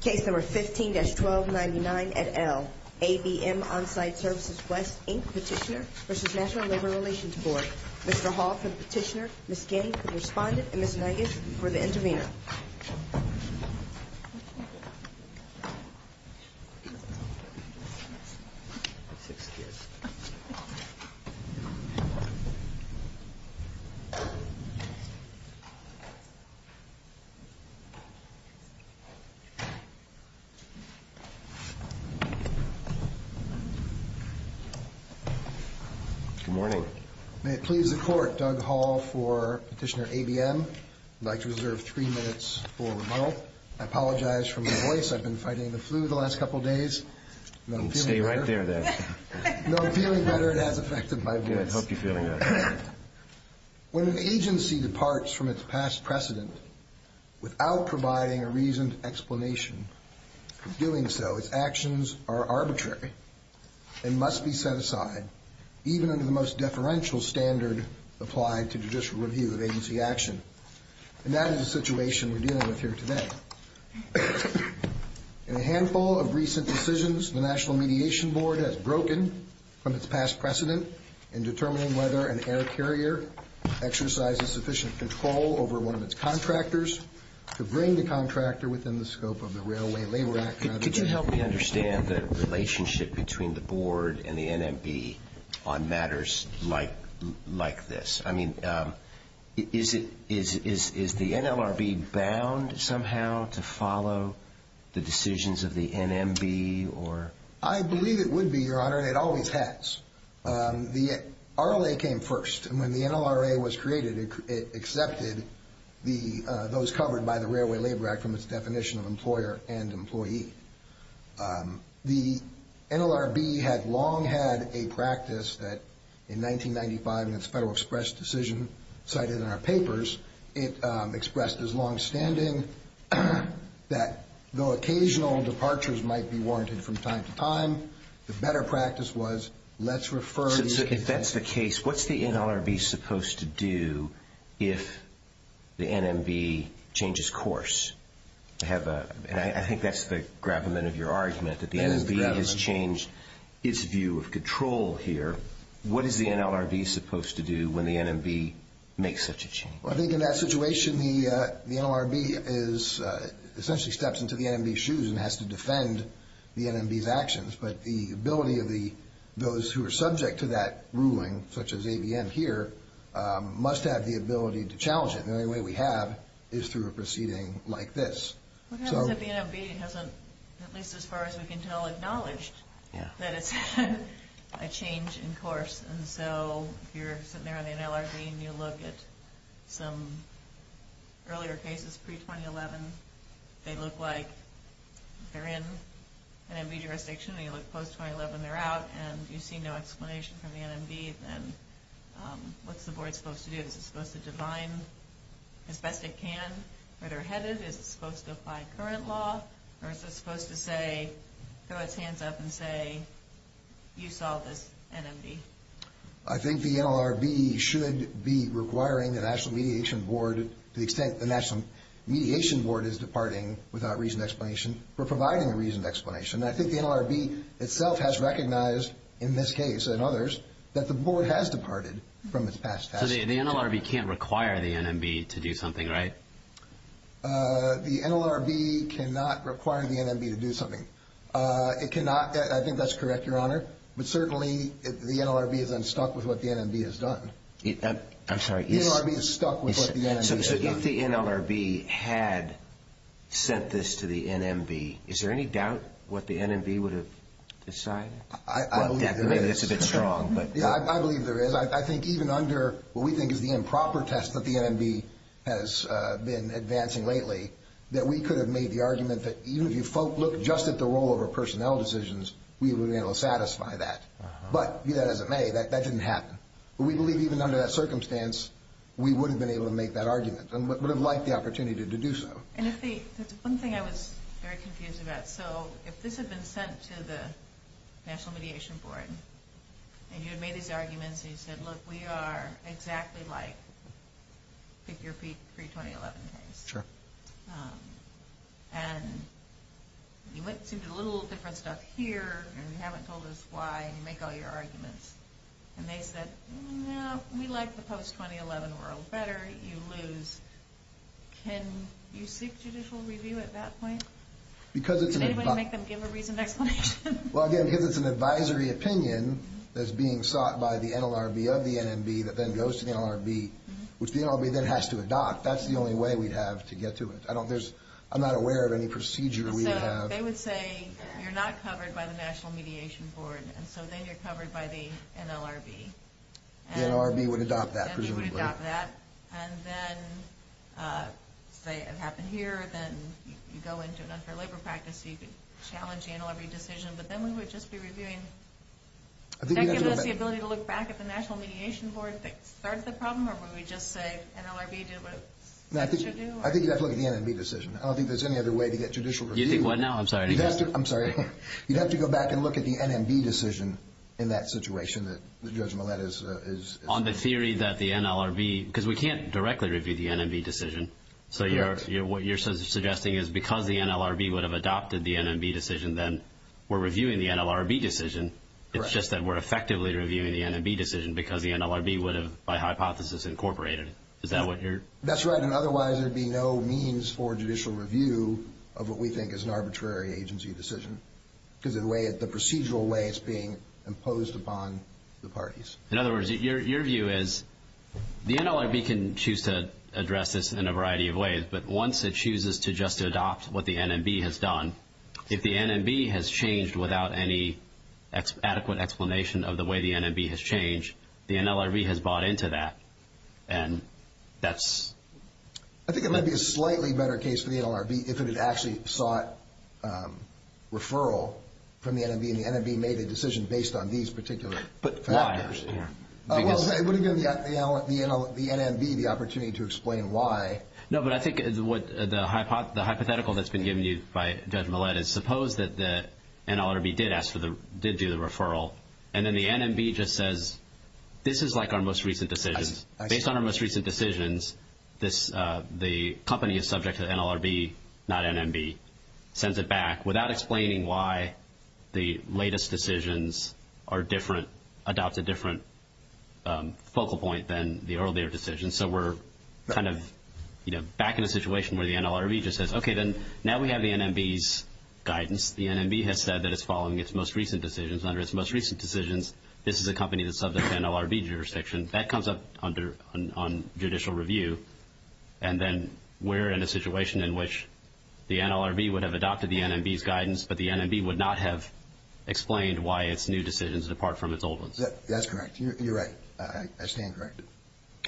Case No. 15-1299 at L. ABM Onsite Services-West, Inc. Petitioner v. National Labor Relations Board Mr. Hall for the petitioner, Ms. Gay for the respondent, and Ms. Nagish for the intervener Good morning. May it please the court, Doug Hall for Petitioner ABM. I'd like to reserve three minutes for remodel. I apologize for my voice. I've been fighting the flu the last couple of days. Stay right there then. No, I'm feeling better. It has affected my voice. Yeah, I'd hope you're feeling better. When an agency departs from its past precedent without providing a reasoned explanation for doing so, its actions are arbitrary and must be set aside, even under the most deferential standard applied to judicial review of agency action. And that is the situation we're dealing with here today. In a handful of recent decisions, the National Mediation Board has broken from its past precedent in determining whether an air carrier exercises sufficient control over one of its contractors to bring the contractor within the scope of the Railway Labor Act. Could you help me understand the relationship between the board and the NMB on matters like this? I mean, is the NLRB bound somehow to follow the decisions of the NMB? I believe it would be, Your Honor, and it always has. The RLA came first, and when the NLRA was created, it accepted those covered by the Railway Labor Act from its definition of employer and employee. The NLRB had long had a practice that, in 1995, in its Federal Express decision cited in our papers, it expressed as longstanding that, though occasional departures might be warranted from time to time, the better practice was, let's refer... Well, I think in that situation, the NLRB essentially steps into the NMB's shoes and has to defend the NMB's actions. But the ability of those who are subject to that ruling, such as AVM here, must have the ability to challenge it. The only way we have is through a proceeding like this. What happens if the NMB hasn't, at least as far as we can tell, acknowledged that it's had a change in course? And so if you're sitting there on the NLRB and you look at some earlier cases, pre-2011, they look like they're in NMB jurisdiction, and you look post-2011, they're out, and you see no explanation from the NMB, then what's the board supposed to do? Is it supposed to define as best it can where they're headed? Is it supposed to apply current law? Or is it supposed to say, throw its hands up and say, you saw this, NMB? I think the NLRB should be requiring the National Mediation Board, to the extent the National Mediation Board is departing without reasoned explanation, for providing a reasoned explanation. And I think the NLRB itself has recognized, in this case and others, that the board has departed from its past task. So the NLRB can't require the NMB to do something, right? The NLRB cannot require the NMB to do something. It cannot, I think that's correct, Your Honor. But certainly, the NLRB is unstuck with what the NMB has done. I'm sorry. The NLRB is stuck with what the NMB has done. So if the NLRB had sent this to the NMB, is there any doubt what the NMB would have decided? I believe there is. Maybe that's a bit strong. I believe there is. I think even under what we think is the improper test that the NMB has been advancing lately, that we could have made the argument that even if you looked just at the role of our personnel decisions, we would have been able to satisfy that. But, be that as it may, that didn't happen. But we believe even under that circumstance, we wouldn't have been able to make that argument, and would have liked the opportunity to do so. That's one thing I was very confused about. So if this had been sent to the National Mediation Board, and you had made these arguments, and you said, look, we are exactly like pick-your-feet-pre-2011 case. Sure. And you went through a little different stuff here, and you haven't told us why, and you make all your arguments. And they said, no, we like the post-2011 world better. You lose. Can you seek judicial review at that point? Because it's an... Well, again, because it's an advisory opinion that's being sought by the NLRB of the NMB that then goes to the NLRB, which the NLRB then has to adopt. That's the only way we'd have to get to it. I'm not aware of any procedure we have. They would say, you're not covered by the National Mediation Board, and so then you're covered by the NLRB. The NLRB would adopt that, presumably. And then, say it happened here, then you go into an unfair labor practice, so you could challenge the NLRB decision, but then we would just be reviewing... Would that give us the ability to look back at the National Mediation Board that started the problem, or would we just say NLRB did what it should do? I think you'd have to look at the NMB decision. I don't think there's any other way to get judicial review. You think what now? I'm sorry to hear that. I'm sorry. You'd have to go back and look at the NMB decision in that situation that Judge Millett is... On the theory that the NLRB... Because we can't directly review the NMB decision. Correct. So what you're suggesting is because the NLRB would have adopted the NMB decision, then we're reviewing the NLRB decision. Correct. It's just that we're effectively reviewing the NMB decision because the NLRB would have, by hypothesis, incorporated it. Is that what you're... That's right, and otherwise there'd be no means for judicial review of what we think is an arbitrary agency decision because of the procedural way it's being imposed upon the parties. In other words, your view is the NLRB can choose to address this in a variety of ways, but once it chooses to just adopt what the NMB has done, if the NMB has changed without any adequate explanation of the way the NMB has changed, the NLRB has bought into that, and that's... I think it might be a slightly better case for the NLRB if it had actually sought referral from the NMB, and the NMB made a decision based on these particular factors. Well, it wouldn't give the NMB the opportunity to explain why. No, but I think the hypothetical that's been given to you by Judge Millett is suppose that the NLRB did do the referral, and then the NMB just says, this is like our most recent decisions. Based on our most recent decisions, the company is subject to the NLRB, not NMB, sends it back without explaining why the latest decisions are different, adopt a different focal point than the earlier decisions. So we're kind of back in a situation where the NLRB just says, okay, now we have the NMB's guidance. The NMB has said that it's following its most recent decisions. Under its most recent decisions, this is a company that's subject to NLRB jurisdiction. That comes up under judicial review, and then we're in a situation in which the NLRB would have adopted the NMB's guidance, but the NMB would not have explained why its new decisions depart from its old ones. That's correct. You're right. I stand corrected.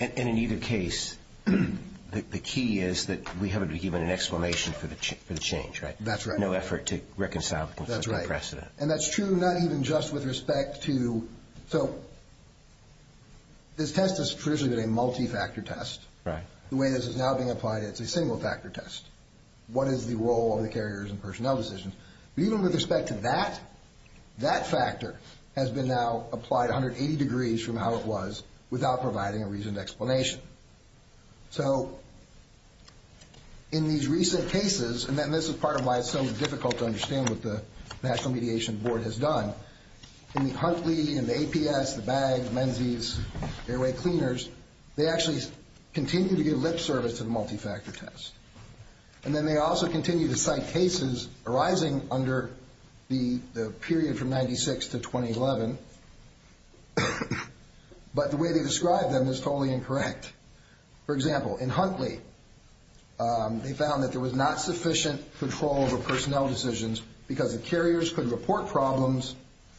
And in either case, the key is that we haven't been given an explanation for the change, right? That's right. No effort to reconcile conflicting precedent. That's right. So this test has traditionally been a multi-factor test. Right. The way this is now being applied, it's a single-factor test. What is the role of the carriers and personnel decisions? But even with respect to that, that factor has been now applied 180 degrees from how it was without providing a reasoned explanation. So in these recent cases, and this is part of why it's so difficult to understand what the National Mediation Board has done, in the Huntley, in the APS, the BAG, Menzies, airway cleaners, they actually continue to give lip service to the multi-factor test. And then they also continue to cite cases arising under the period from 1996 to 2011, but the way they describe them is totally incorrect. For example, in Huntley, they found that there was not sufficient control over personnel decisions because the carriers could report problems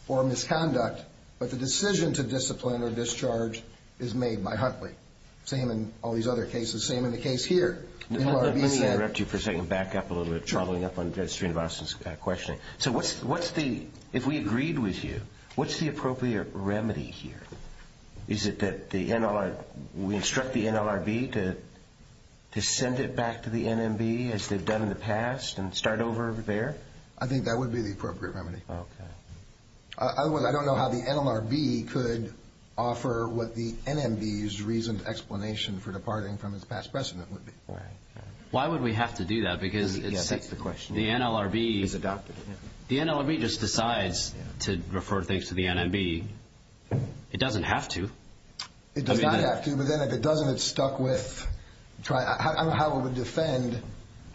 or misconduct, but the decision to discipline or discharge is made by Huntley. Same in all these other cases. Same in the case here. Let me interrupt you for a second and back up a little bit, traveling up on Judge Strinovac's questioning. So if we agreed with you, what's the appropriate remedy here? Is it that we instruct the NLRB to send it back to the NMB as they've done in the past and start over there? I think that would be the appropriate remedy. Otherwise, I don't know how the NLRB could offer what the NMB's reasoned explanation for departing from its past precedent would be. Why would we have to do that? Because it sets the question. The NLRB just decides to refer things to the NMB. It doesn't have to. It does not have to, but then if it doesn't, it's stuck with. I don't know how it would defend.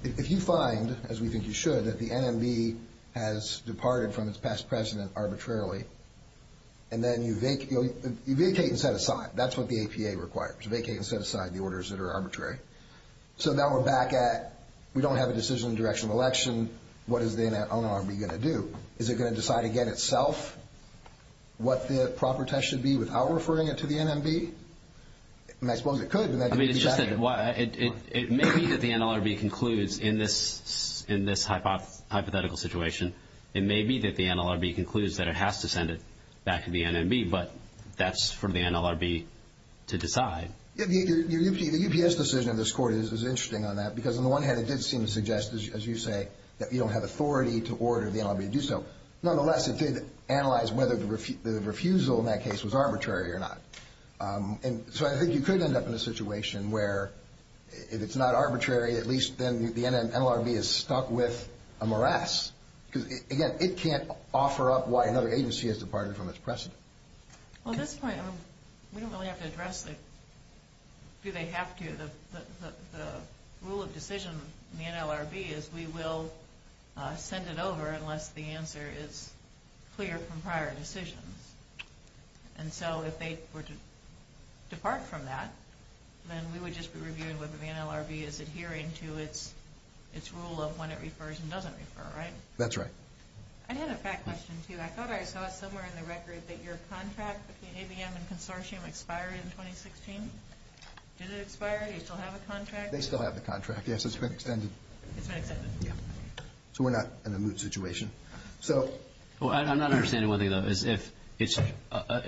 If you find, as we think you should, that the NMB has departed from its past precedent arbitrarily, and then you vacate and set aside. That's what the APA requires, vacate and set aside the orders that are arbitrary. So now we're back at we don't have a decision in the direction of election. What is the NLRB going to do? Is it going to decide again itself what the proper test should be without referring it to the NMB? And I suppose it could. I mean, it's just that it may be that the NLRB concludes in this hypothetical situation. It may be that the NLRB concludes that it has to send it back to the NMB, but that's for the NLRB to decide. The UPS decision in this court is interesting on that because on the one hand it did seem to suggest, as you say, that you don't have authority to order the NLRB to do so. Nonetheless, it did analyze whether the refusal in that case was arbitrary or not. And so I think you could end up in a situation where if it's not arbitrary, at least then the NLRB is stuck with a morass because, again, it can't offer up why another agency has departed from its precedent. Well, at this point, we don't really have to address the do they have to. The rule of decision in the NLRB is we will send it over unless the answer is clear from prior decisions. And so if they were to depart from that, then we would just be reviewing whether the NLRB is adhering to its rule of when it refers and doesn't refer, right? That's right. I had a fact question, too. I thought I saw somewhere in the record that your contract between ABM and Consortium expired in 2016. Did it expire? Do you still have a contract? They still have the contract. Yes, it's been extended. It's been extended. Yeah. So we're not in a moot situation. Well, I'm not understanding one thing, though.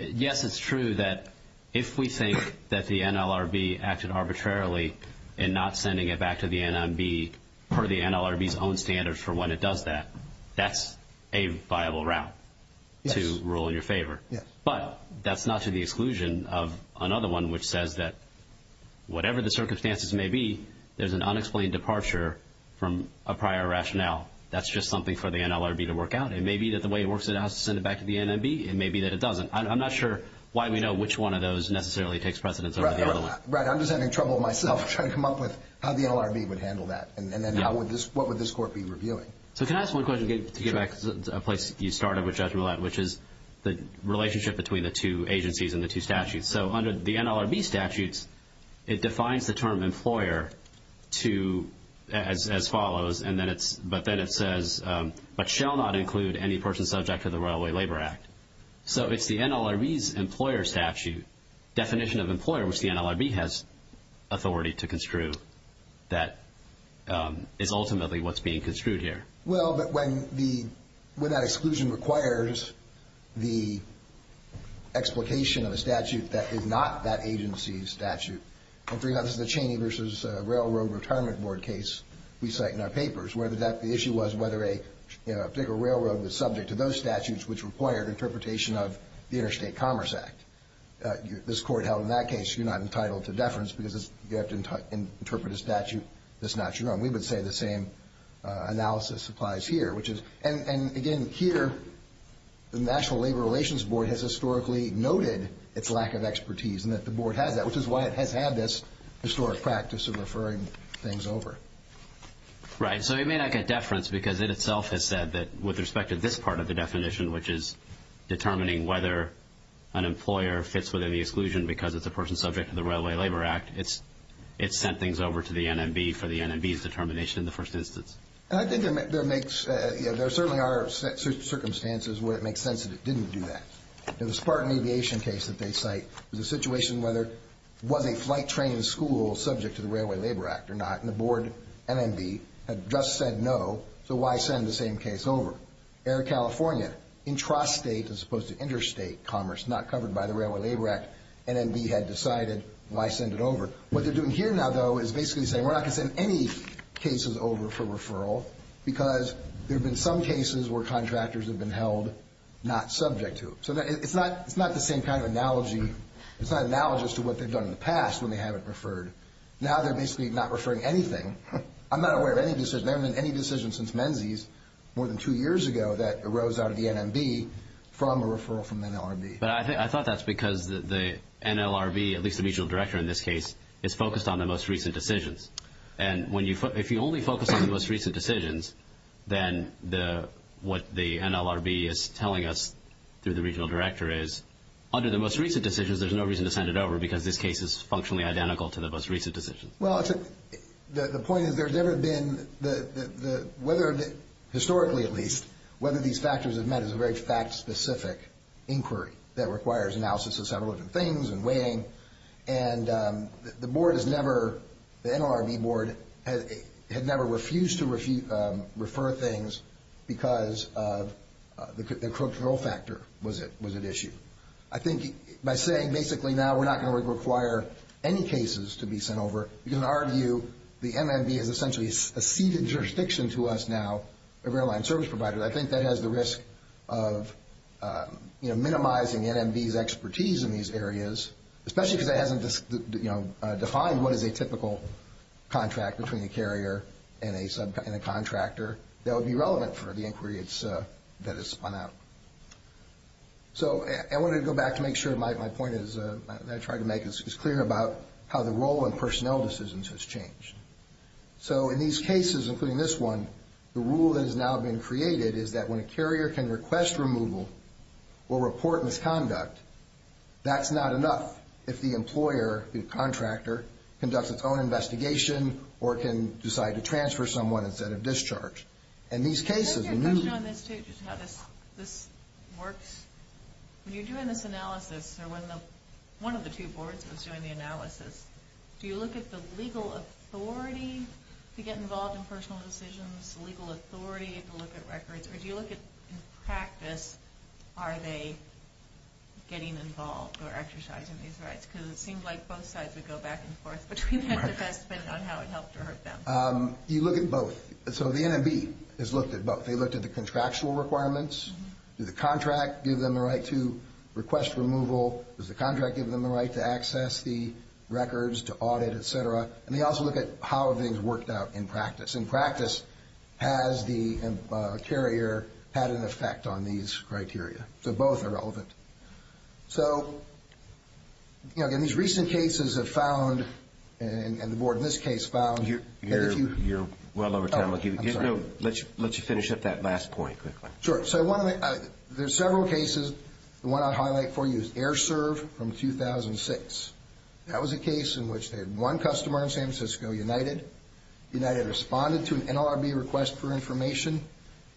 Yes, it's true that if we think that the NLRB acted arbitrarily in not sending it back to the NMB per the NLRB's own standards for when it does that, that's a viable route to rule in your favor. Yes. But that's not to the exclusion of another one which says that whatever the circumstances may be, there's an unexplained departure from a prior rationale. That's just something for the NLRB to work out. It may be that the way it works, it has to send it back to the NMB. It may be that it doesn't. I'm not sure why we know which one of those necessarily takes precedence over the other one. Right. I'm just having trouble myself trying to come up with how the NLRB would handle that and then what would this court be reviewing. So can I ask one question to get back to a place you started with, Judge Millett, which is the relationship between the two agencies and the two statutes. So under the NLRB statutes, it defines the term employer as follows, but then it says, but shall not include any person subject to the Railway Labor Act. So it's the NLRB's employer statute, definition of employer, which the NLRB has authority to construe, that is ultimately what's being construed here. Well, but when that exclusion requires the explication of a statute that is not that agency's statute, this is the Cheney v. Railroad Retirement Board case we cite in our papers, where the issue was whether a particular railroad was subject to those statutes which required interpretation of the Interstate Commerce Act. This court held in that case you're not entitled to deference because you have to interpret a statute that's not your own. We would say the same analysis applies here. And, again, here the National Labor Relations Board has historically noted its lack of expertise and that the board has that, which is why it has had this historic practice of referring things over. Right, so it may not get deference because it itself has said that with respect to this part of the definition, which is determining whether an employer fits within the exclusion because it's a person subject to the Railway Labor Act, it's sent things over to the NMB for the NMB's determination in the first instance. And I think there certainly are circumstances where it makes sense that it didn't do that. Now, the Spartan Aviation case that they cite was a situation whether it was a flight training school subject to the Railway Labor Act or not, and the board, NMB, had just said no, so why send the same case over? Air California, intrastate as opposed to interstate commerce not covered by the Railway Labor Act, NMB had decided why send it over. What they're doing here now, though, is basically saying we're not going to send any cases over for referral because there have been some cases where contractors have been held not subject to it. So it's not the same kind of analogy. It's not analogous to what they've done in the past when they haven't referred. Now they're basically not referring anything. I'm not aware of any decision, never been any decision since Menzies more than two years ago that arose out of the NMB from a referral from the NLRB. But I thought that's because the NLRB, at least the regional director in this case, is focused on the most recent decisions. And if you only focus on the most recent decisions, then what the NLRB is telling us through the regional director is, under the most recent decisions there's no reason to send it over because this case is functionally identical to the most recent decisions. Well, the point is there's never been the whether, historically at least, whether these factors have met is a very fact-specific inquiry that requires analysis of several different things and weighing. And the board has never, the NLRB board had never refused to refer things because of the control factor was at issue. I think by saying basically now we're not going to require any cases to be sent over, you can argue the NMB is essentially a ceded jurisdiction to us now, a rail line service provider. I think that has the risk of minimizing NMB's expertise in these areas, especially because it hasn't defined what is a typical contract between a carrier and a contractor that would be relevant for the inquiry that is spun out. So I wanted to go back to make sure my point that I tried to make is clear about how the role in personnel decisions has changed. So in these cases, including this one, the rule that has now been created is that when a carrier can request removal or report misconduct, that's not enough if the employer, the contractor, conducts its own investigation or can decide to transfer someone instead of discharge. In these cases, we need... Can I ask you a question on this too, just how this works? When you're doing this analysis or when one of the two boards was doing the analysis, do you look at the legal authority to get involved in personnel decisions, the legal authority to look at records, or do you look at, in practice, are they getting involved or exercising these rights? Because it seems like both sides would go back and forth between that depending on how it helped or hurt them. You look at both. So the NMB has looked at both. They looked at the contractual requirements. Did the contract give them the right to request removal? Does the contract give them the right to access the records, to audit, et cetera? And they also look at how things worked out in practice. In practice, has the carrier had an effect on these criteria? So both are relevant. So in these recent cases have found, and the board in this case found... You're well over time. Let's finish up that last point quickly. Sure. There's several cases. The one I'll highlight for you is AirServe from 2006. That was a case in which they had one customer in San Francisco, United. United responded to an NLRB request for information.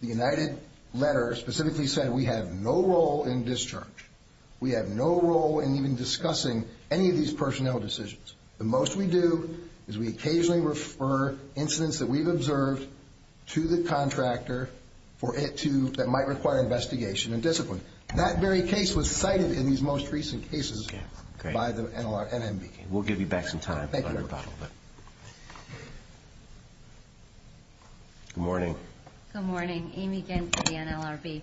The United letter specifically said we have no role in discharge. We have no role in even discussing any of these personnel decisions. The most we do is we occasionally refer incidents that we've observed to the contractor that might require investigation and discipline. That very case was cited in these most recent cases by the NLRB. We'll give you back some time. Thank you. Good morning. Good morning. Amy Gent with the NLRB.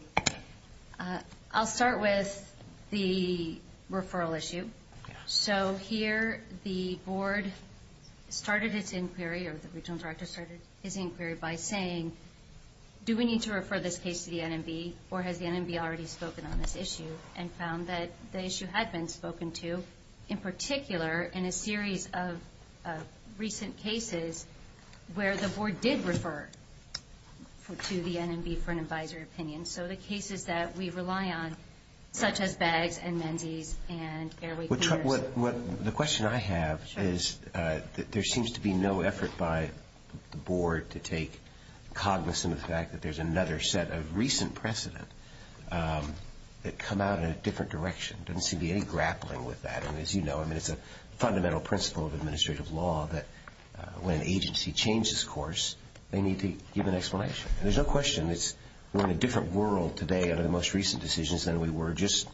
I'll start with the referral issue. So here the board started its inquiry, or the regional director started his inquiry by saying, do we need to refer this case to the NMB, or has the NMB already spoken on this issue, and found that the issue had been spoken to, in particular in a series of recent cases where the board did refer to the NMB for an advisory opinion. And so the cases that we rely on, such as Baggs and Menzies and Airway Clears. The question I have is there seems to be no effort by the board to take cognizance of the fact that there's another set of recent precedent that come out in a different direction. There doesn't seem to be any grappling with that. And as you know, it's a fundamental principle of administrative law that when an agency changes course, they need to give an explanation. There's no question that we're in a different world today under the most recent decisions than we were just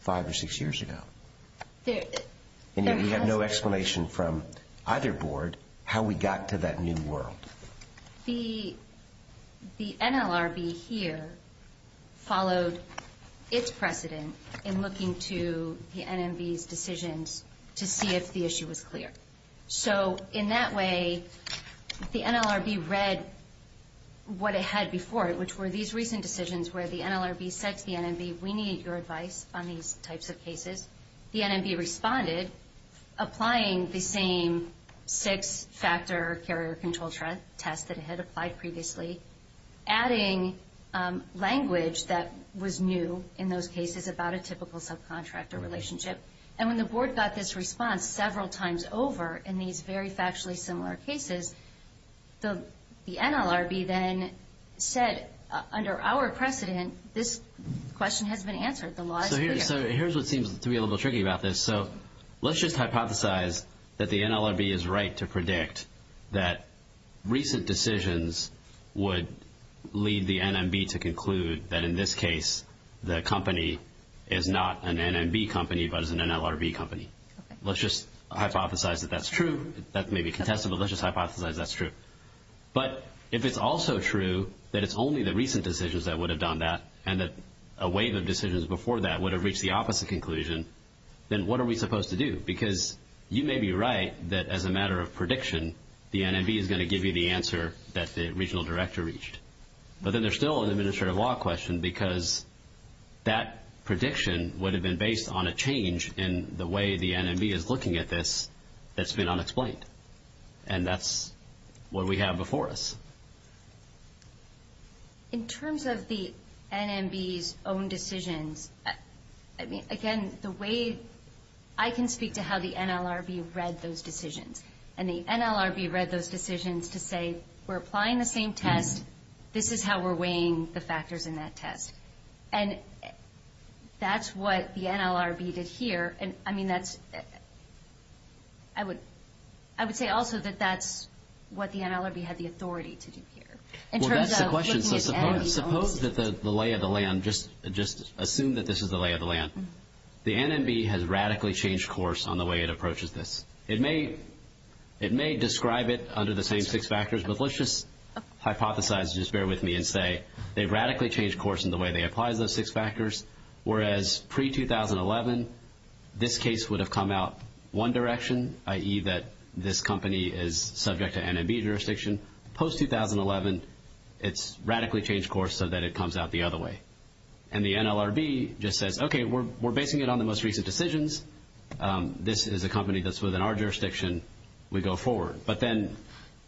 five or six years ago. And yet we have no explanation from either board how we got to that new world. The NLRB here followed its precedent in looking to the NMB's decisions to see if the issue was clear. So in that way, the NLRB read what it had before it, which were these recent decisions where the NLRB said to the NMB, we need your advice on these types of cases. The NMB responded, applying the same six-factor carrier control test that it had applied previously, adding language that was new in those cases about a typical subcontractor relationship. And when the board got this response several times over in these very factually similar cases, the NLRB then said, under our precedent, this question has been answered, the law is clear. So here's what seems to be a little tricky about this. So let's just hypothesize that the NLRB is right to predict that recent decisions would lead the NMB to conclude that in this case, the company is not an NMB company but is an NLRB company. Let's just hypothesize that that's true. That may be contestable. Let's just hypothesize that's true. But if it's also true that it's only the recent decisions that would have done that and that a wave of decisions before that would have reached the opposite conclusion, then what are we supposed to do? Because you may be right that as a matter of prediction, the NMB is going to give you the answer that the regional director reached. But then there's still an administrative law question because that prediction would have been based on a change in the way the NMB is looking at this that's been unexplained, and that's what we have before us. In terms of the NMB's own decisions, I mean, again, the way I can speak to how the NLRB read those decisions, and the NLRB read those decisions to say we're applying the same test, this is how we're weighing the factors in that test. And that's what the NLRB did here. I mean, I would say also that that's what the NLRB had the authority to do here. Well, that's the question. So suppose that the lay of the land, just assume that this is the lay of the land. The NMB has radically changed course on the way it approaches this. It may describe it under the same six factors, but let's just hypothesize, just bear with me, and say they've radically changed course in the way they apply those six factors, whereas pre-2011 this case would have come out one direction, i.e., that this company is subject to NMB jurisdiction. Post-2011 it's radically changed course so that it comes out the other way. And the NLRB just says, okay, we're basing it on the most recent decisions. This is a company that's within our jurisdiction. We go forward. But then,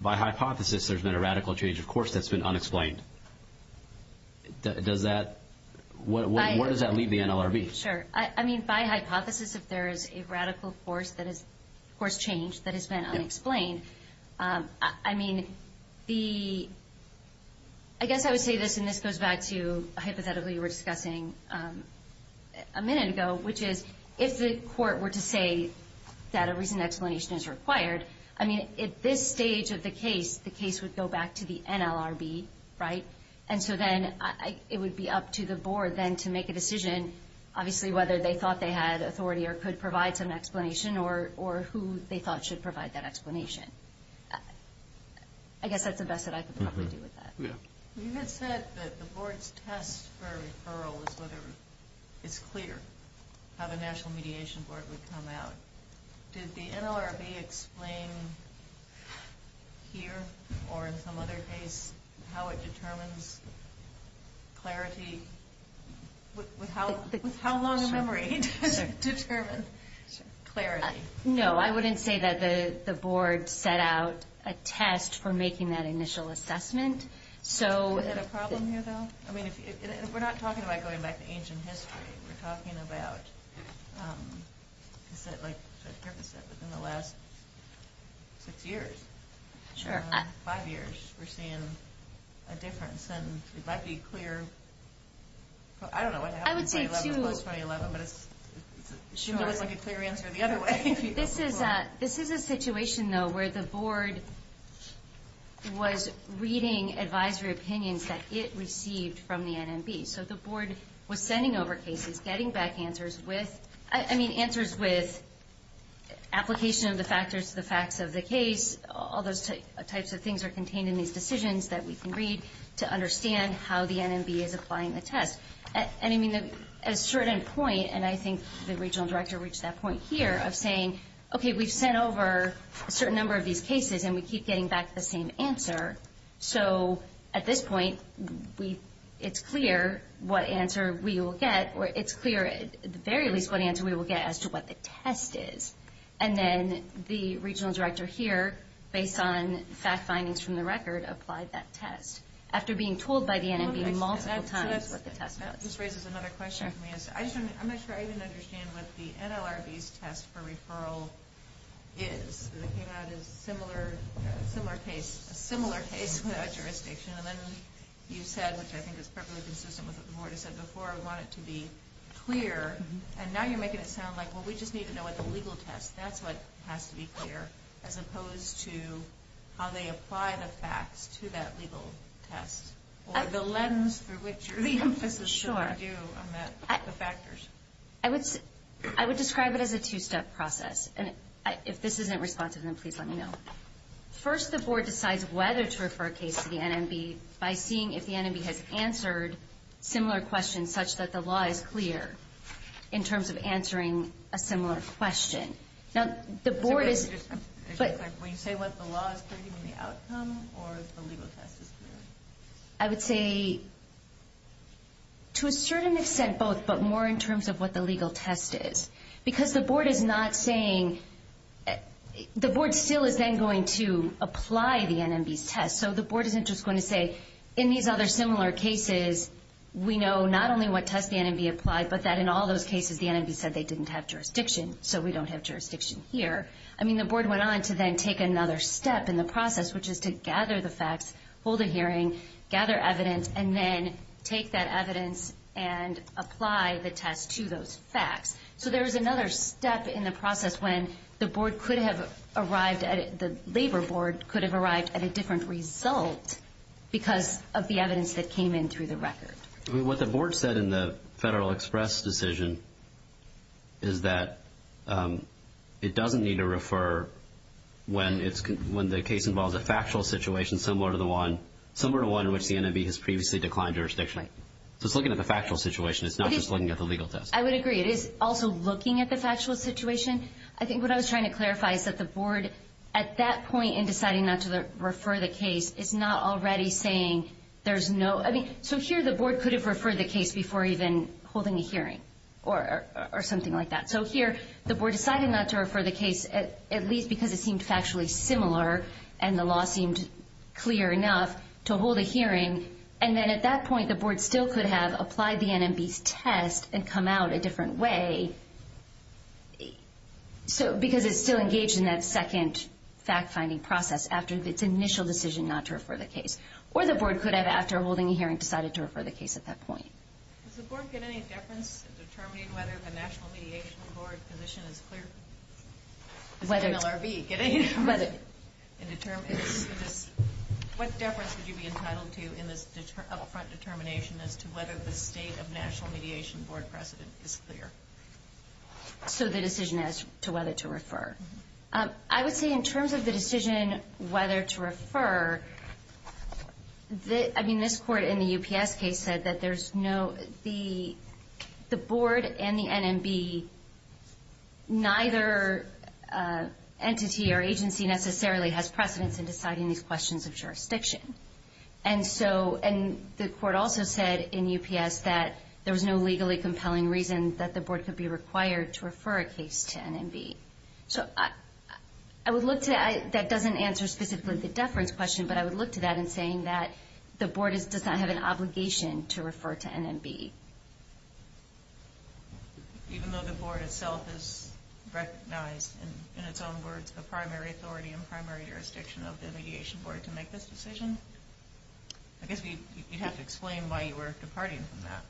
by hypothesis, there's been a radical change of course that's been unexplained. Does that – where does that leave the NLRB? Sure. I mean, by hypothesis, if there is a radical course change that has been unexplained, I mean, the – I guess I would say this, and this goes back to hypothetically you were discussing a minute ago, which is if the court were to say that a recent explanation is required, I mean, at this stage of the case, the case would go back to the NLRB, right? And so then it would be up to the board then to make a decision, obviously whether they thought they had authority or could provide some explanation or who they thought should provide that explanation. I guess that's the best that I could probably do with that. You had said that the board's test for referral is whether it's clear how the National Mediation Board would come out. Did the NLRB explain here or in some other case how it determines clarity? With how long a memory does it determine clarity? No, I wouldn't say that the board set out a test for making that initial assessment. Is that a problem here, though? I mean, we're not talking about going back to ancient history. We're talking about, like Griffith said, within the last six years, five years, we're seeing a difference. And it might be clear – I don't know what happened in 2011 as opposed to 2011, but it looks like a clear answer the other way. This is a situation, though, where the board was reading advisory opinions that it received from the NMB. So the board was sending over cases, getting back answers with – I mean, answers with application of the factors, the facts of the case, all those types of things are contained in these decisions that we can read to understand how the NMB is applying the test. And, I mean, at a certain point, and I think the regional director reached that point here of saying, okay, we've sent over a certain number of these cases, and we keep getting back the same answer. So at this point, it's clear what answer we will get, or it's clear at the very least what answer we will get as to what the test is. And then the regional director here, based on fact findings from the record, applied that test. After being told by the NMB multiple times what the test was. That just raises another question for me. I'm not sure I even understand what the NLRB's test for referral is. It came out as a similar case without jurisdiction. And then you said, which I think is probably consistent with what the board has said before, we want it to be clear. And now you're making it sound like, well, we just need to know what the legal test – that's what has to be clear, as opposed to how they apply the facts to that legal test. Or the lens through which your emphasis should be due on the factors. I would describe it as a two-step process. And if this isn't responsive, then please let me know. First, the board decides whether to refer a case to the NMB by seeing if the NMB has answered similar questions such that the law is clear in terms of answering a similar question. When you say what the law is clear, do you mean the outcome or if the legal test is clear? I would say to a certain extent both, but more in terms of what the legal test is. Because the board is not saying – the board still is then going to apply the NMB's test. So the board isn't just going to say, in these other similar cases, we know not only what test the NMB applied, but that in all those cases the NMB said they didn't have jurisdiction, so we don't have jurisdiction here. I mean, the board went on to then take another step in the process, which is to gather the facts, hold a hearing, gather evidence, and then take that evidence and apply the test to those facts. So there is another step in the process when the board could have arrived at – the labor board could have arrived at a different result because of the evidence that came in through the record. What the board said in the Federal Express decision is that it doesn't need to refer when the case involves a factual situation similar to the one in which the NMB has previously declined jurisdiction. So it's looking at the factual situation. It's not just looking at the legal test. I would agree. It is also looking at the factual situation. I think what I was trying to clarify is that the board, at that point in deciding not to refer the case, is not already saying there's no – I mean, so here the board could have referred the case before even holding a hearing or something like that. So here the board decided not to refer the case, at least because it seemed factually similar and the law seemed clear enough to hold a hearing, and then at that point the board still could have applied the NMB's test and come out a different way because it's still engaged in that second fact-finding process after its initial decision not to refer the case. Or the board could have, after holding a hearing, decided to refer the case at that point. Does the board get any deference in determining whether the National Mediation Board position is clear? Does the NLRB get any deference in determining this? What deference would you be entitled to in this up-front determination as to whether the state of National Mediation Board precedent is clear? So the decision as to whether to refer. I would say in terms of the decision whether to refer, I mean, this court in the UPS case said that there's no – the board and the NMB, neither entity or agency necessarily has precedence in deciding these questions of jurisdiction. And so – and the court also said in UPS that there was no legally compelling reason that the board could be required to refer a case to NMB. So I would look to – that doesn't answer specifically the deference question, but I would look to that in saying that the board does not have an obligation to refer to NMB. Even though the board itself is recognized in its own words the primary authority and primary jurisdiction of the Mediation Board to make this decision? I guess you'd have to explain why you were departing from that.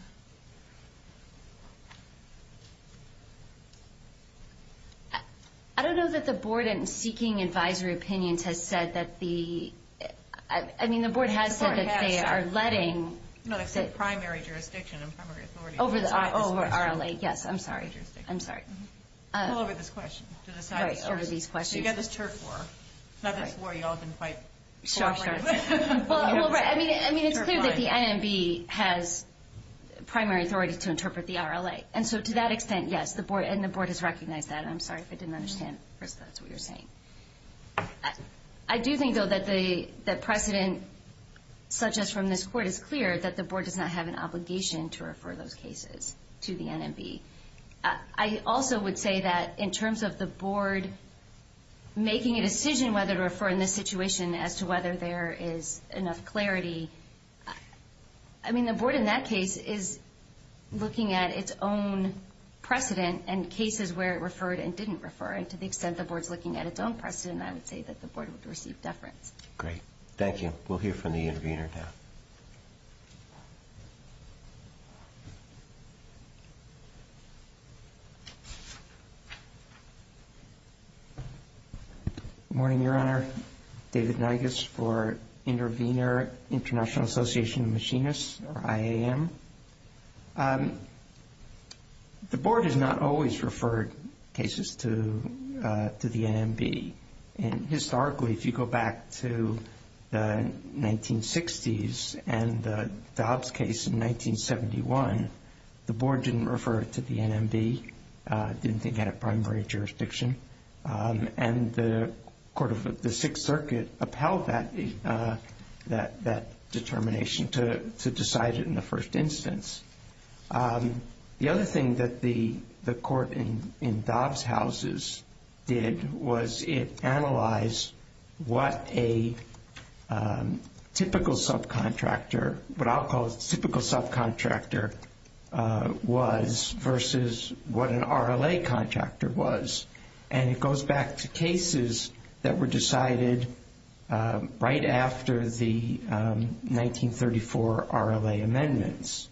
I don't know that the board in seeking advisory opinions has said that the – I mean, the board has said that they are letting – No, they said primary jurisdiction and primary authority. Over the – over RLA. Yes, I'm sorry. I'm sorry. All over this question. All right, over these questions. So you got this turf war. Not this war you all have been quite – Sure, sure. Well, right. I mean, it's clear that the NMB has primary authority to interpret the RLA. And so to that extent, yes, the board – and the board has recognized that. I'm sorry if I didn't understand. First of all, that's what you're saying. I do think, though, that precedent such as from this court is clear, that the board does not have an obligation to refer those cases to the NMB. I also would say that in terms of the board making a decision whether to refer in this situation as to whether there is enough clarity, I mean, the board in that case is looking at its own precedent and cases where it referred and didn't refer. And to the extent the board's looking at its own precedent, I would say that the board would receive deference. Great. Thank you. We'll hear from the intervener now. Good morning, Your Honor. David Nagus for Intervener International Association of Machinists, or IAM. The board has not always referred cases to the NMB. And historically, if you go back to the 1960s and the Dobbs case in 1971, the board didn't refer it to the NMB, didn't think it had a primary jurisdiction. And the Sixth Circuit upheld that determination to decide it in the first instance. The other thing that the court in Dobbs' houses did was it analyzed what a typical subcontractor, what I'll call a typical subcontractor was versus what an RLA contractor was. And it goes back to cases that were decided right after the 1934 RLA amendments.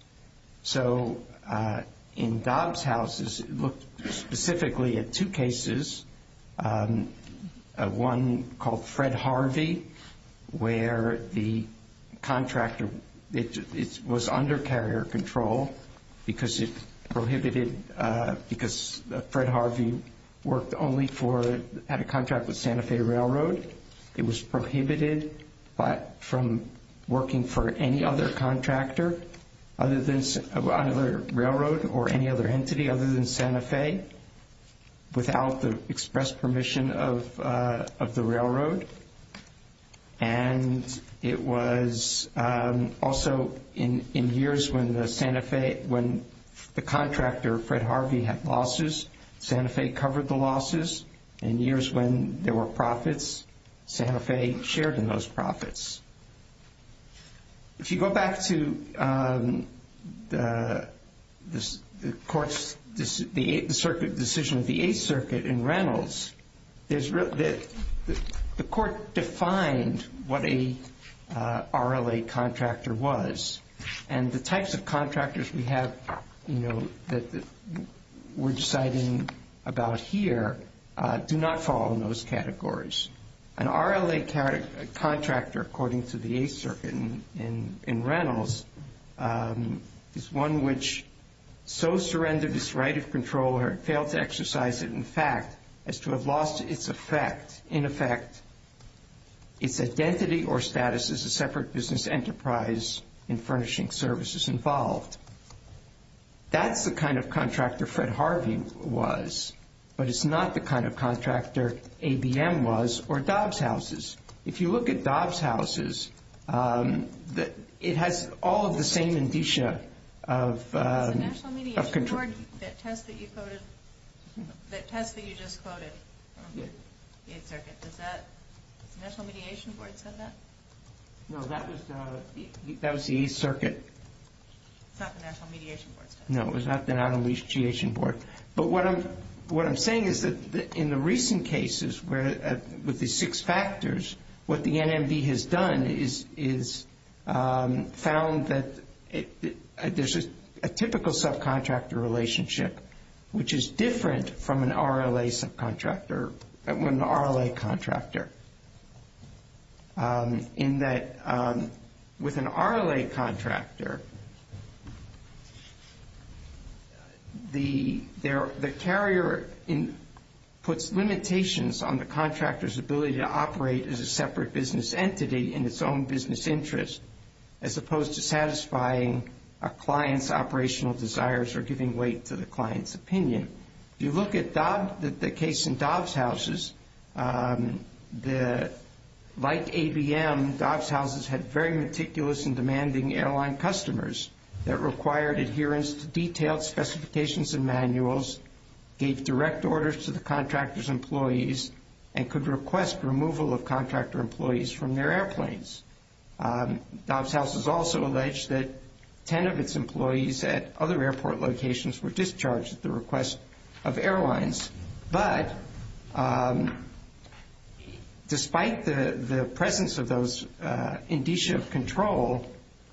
So in Dobbs' houses, it looked specifically at two cases, one called Fred Harvey, where the contractor, it was under carrier control because it prohibited, because Fred Harvey worked only for, had a contract with Santa Fe Railroad. It was prohibited from working for any other contractor, other railroad or any other entity other than Santa Fe, without the express permission of the railroad. And it was also in years when the Santa Fe, when the contractor, Fred Harvey, had losses, Santa Fe covered the losses. In years when there were profits, Santa Fe shared in those profits. If you go back to the court's, the circuit decision of the Eighth Circuit in Reynolds, the court defined what a RLA contractor was. And the types of contractors we have, you know, that we're deciding about here, do not fall in those categories. An RLA contractor, according to the Eighth Circuit in Reynolds, is one which so surrendered its right of control or failed to exercise it in fact, as to have lost its effect, in effect, its identity or status as a separate business enterprise in furnishing services involved. That's the kind of contractor Fred Harvey was. But it's not the kind of contractor ABM was or Dobbs Houses. If you look at Dobbs Houses, it has all of the same indicia of control. The test that you just quoted from the Eighth Circuit, does the National Mediation Board say that? No, that was the Eighth Circuit. It's not the National Mediation Board's test. No, it was not the National Mediation Board. But what I'm saying is that in the recent cases with the six factors, what the NMB has done is found that there's a typical subcontractor relationship which is different from an RLA contractor. In that with an RLA contractor, the carrier puts limitations on the contractor's ability to operate as a separate business entity in its own business interest as opposed to satisfying a client's operational desires or giving weight to the client's opinion. If you look at the case in Dobbs Houses, like ABM, Dobbs Houses had very meticulous and demanding airline customers that required adherence to detailed specifications and manuals, gave direct orders to the contractor's employees, and could request removal of contractor employees from their airplanes. Dobbs Houses also alleged that ten of its employees at other airport locations were discharged at the request of airlines. But despite the presence of those indicia of control,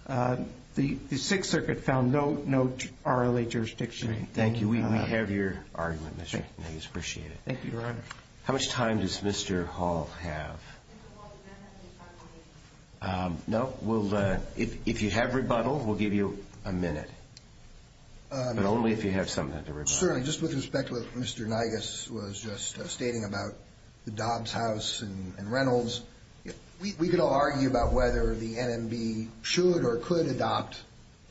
the Sixth Circuit found no RLA jurisdiction. Thank you. We have your argument, Mr. McKinney. We appreciate it. Thank you, Your Honor. How much time does Mr. Hall have? Mr. Hall, is there anything you'd like to say? No. If you have rebuttal, we'll give you a minute. But only if you have something to rebuttal. Certainly. Just with respect to what Mr. Nygus was just stating about the Dobbs House and Reynolds, we could all argue about whether the NMB should or could adopt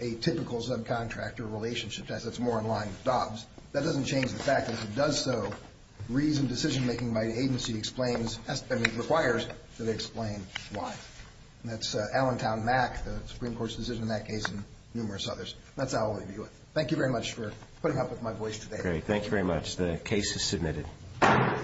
a typical subcontractor relationship, as it's more in line with Dobbs. That doesn't change the fact that if it does so, reasoned decision-making by the agency requires that they explain why. That's Allentown Mack, the Supreme Court's decision in that case, and numerous others. That's all I'll leave you with. Thank you very much for putting up with my voice today. Great. Thank you very much. The case is submitted.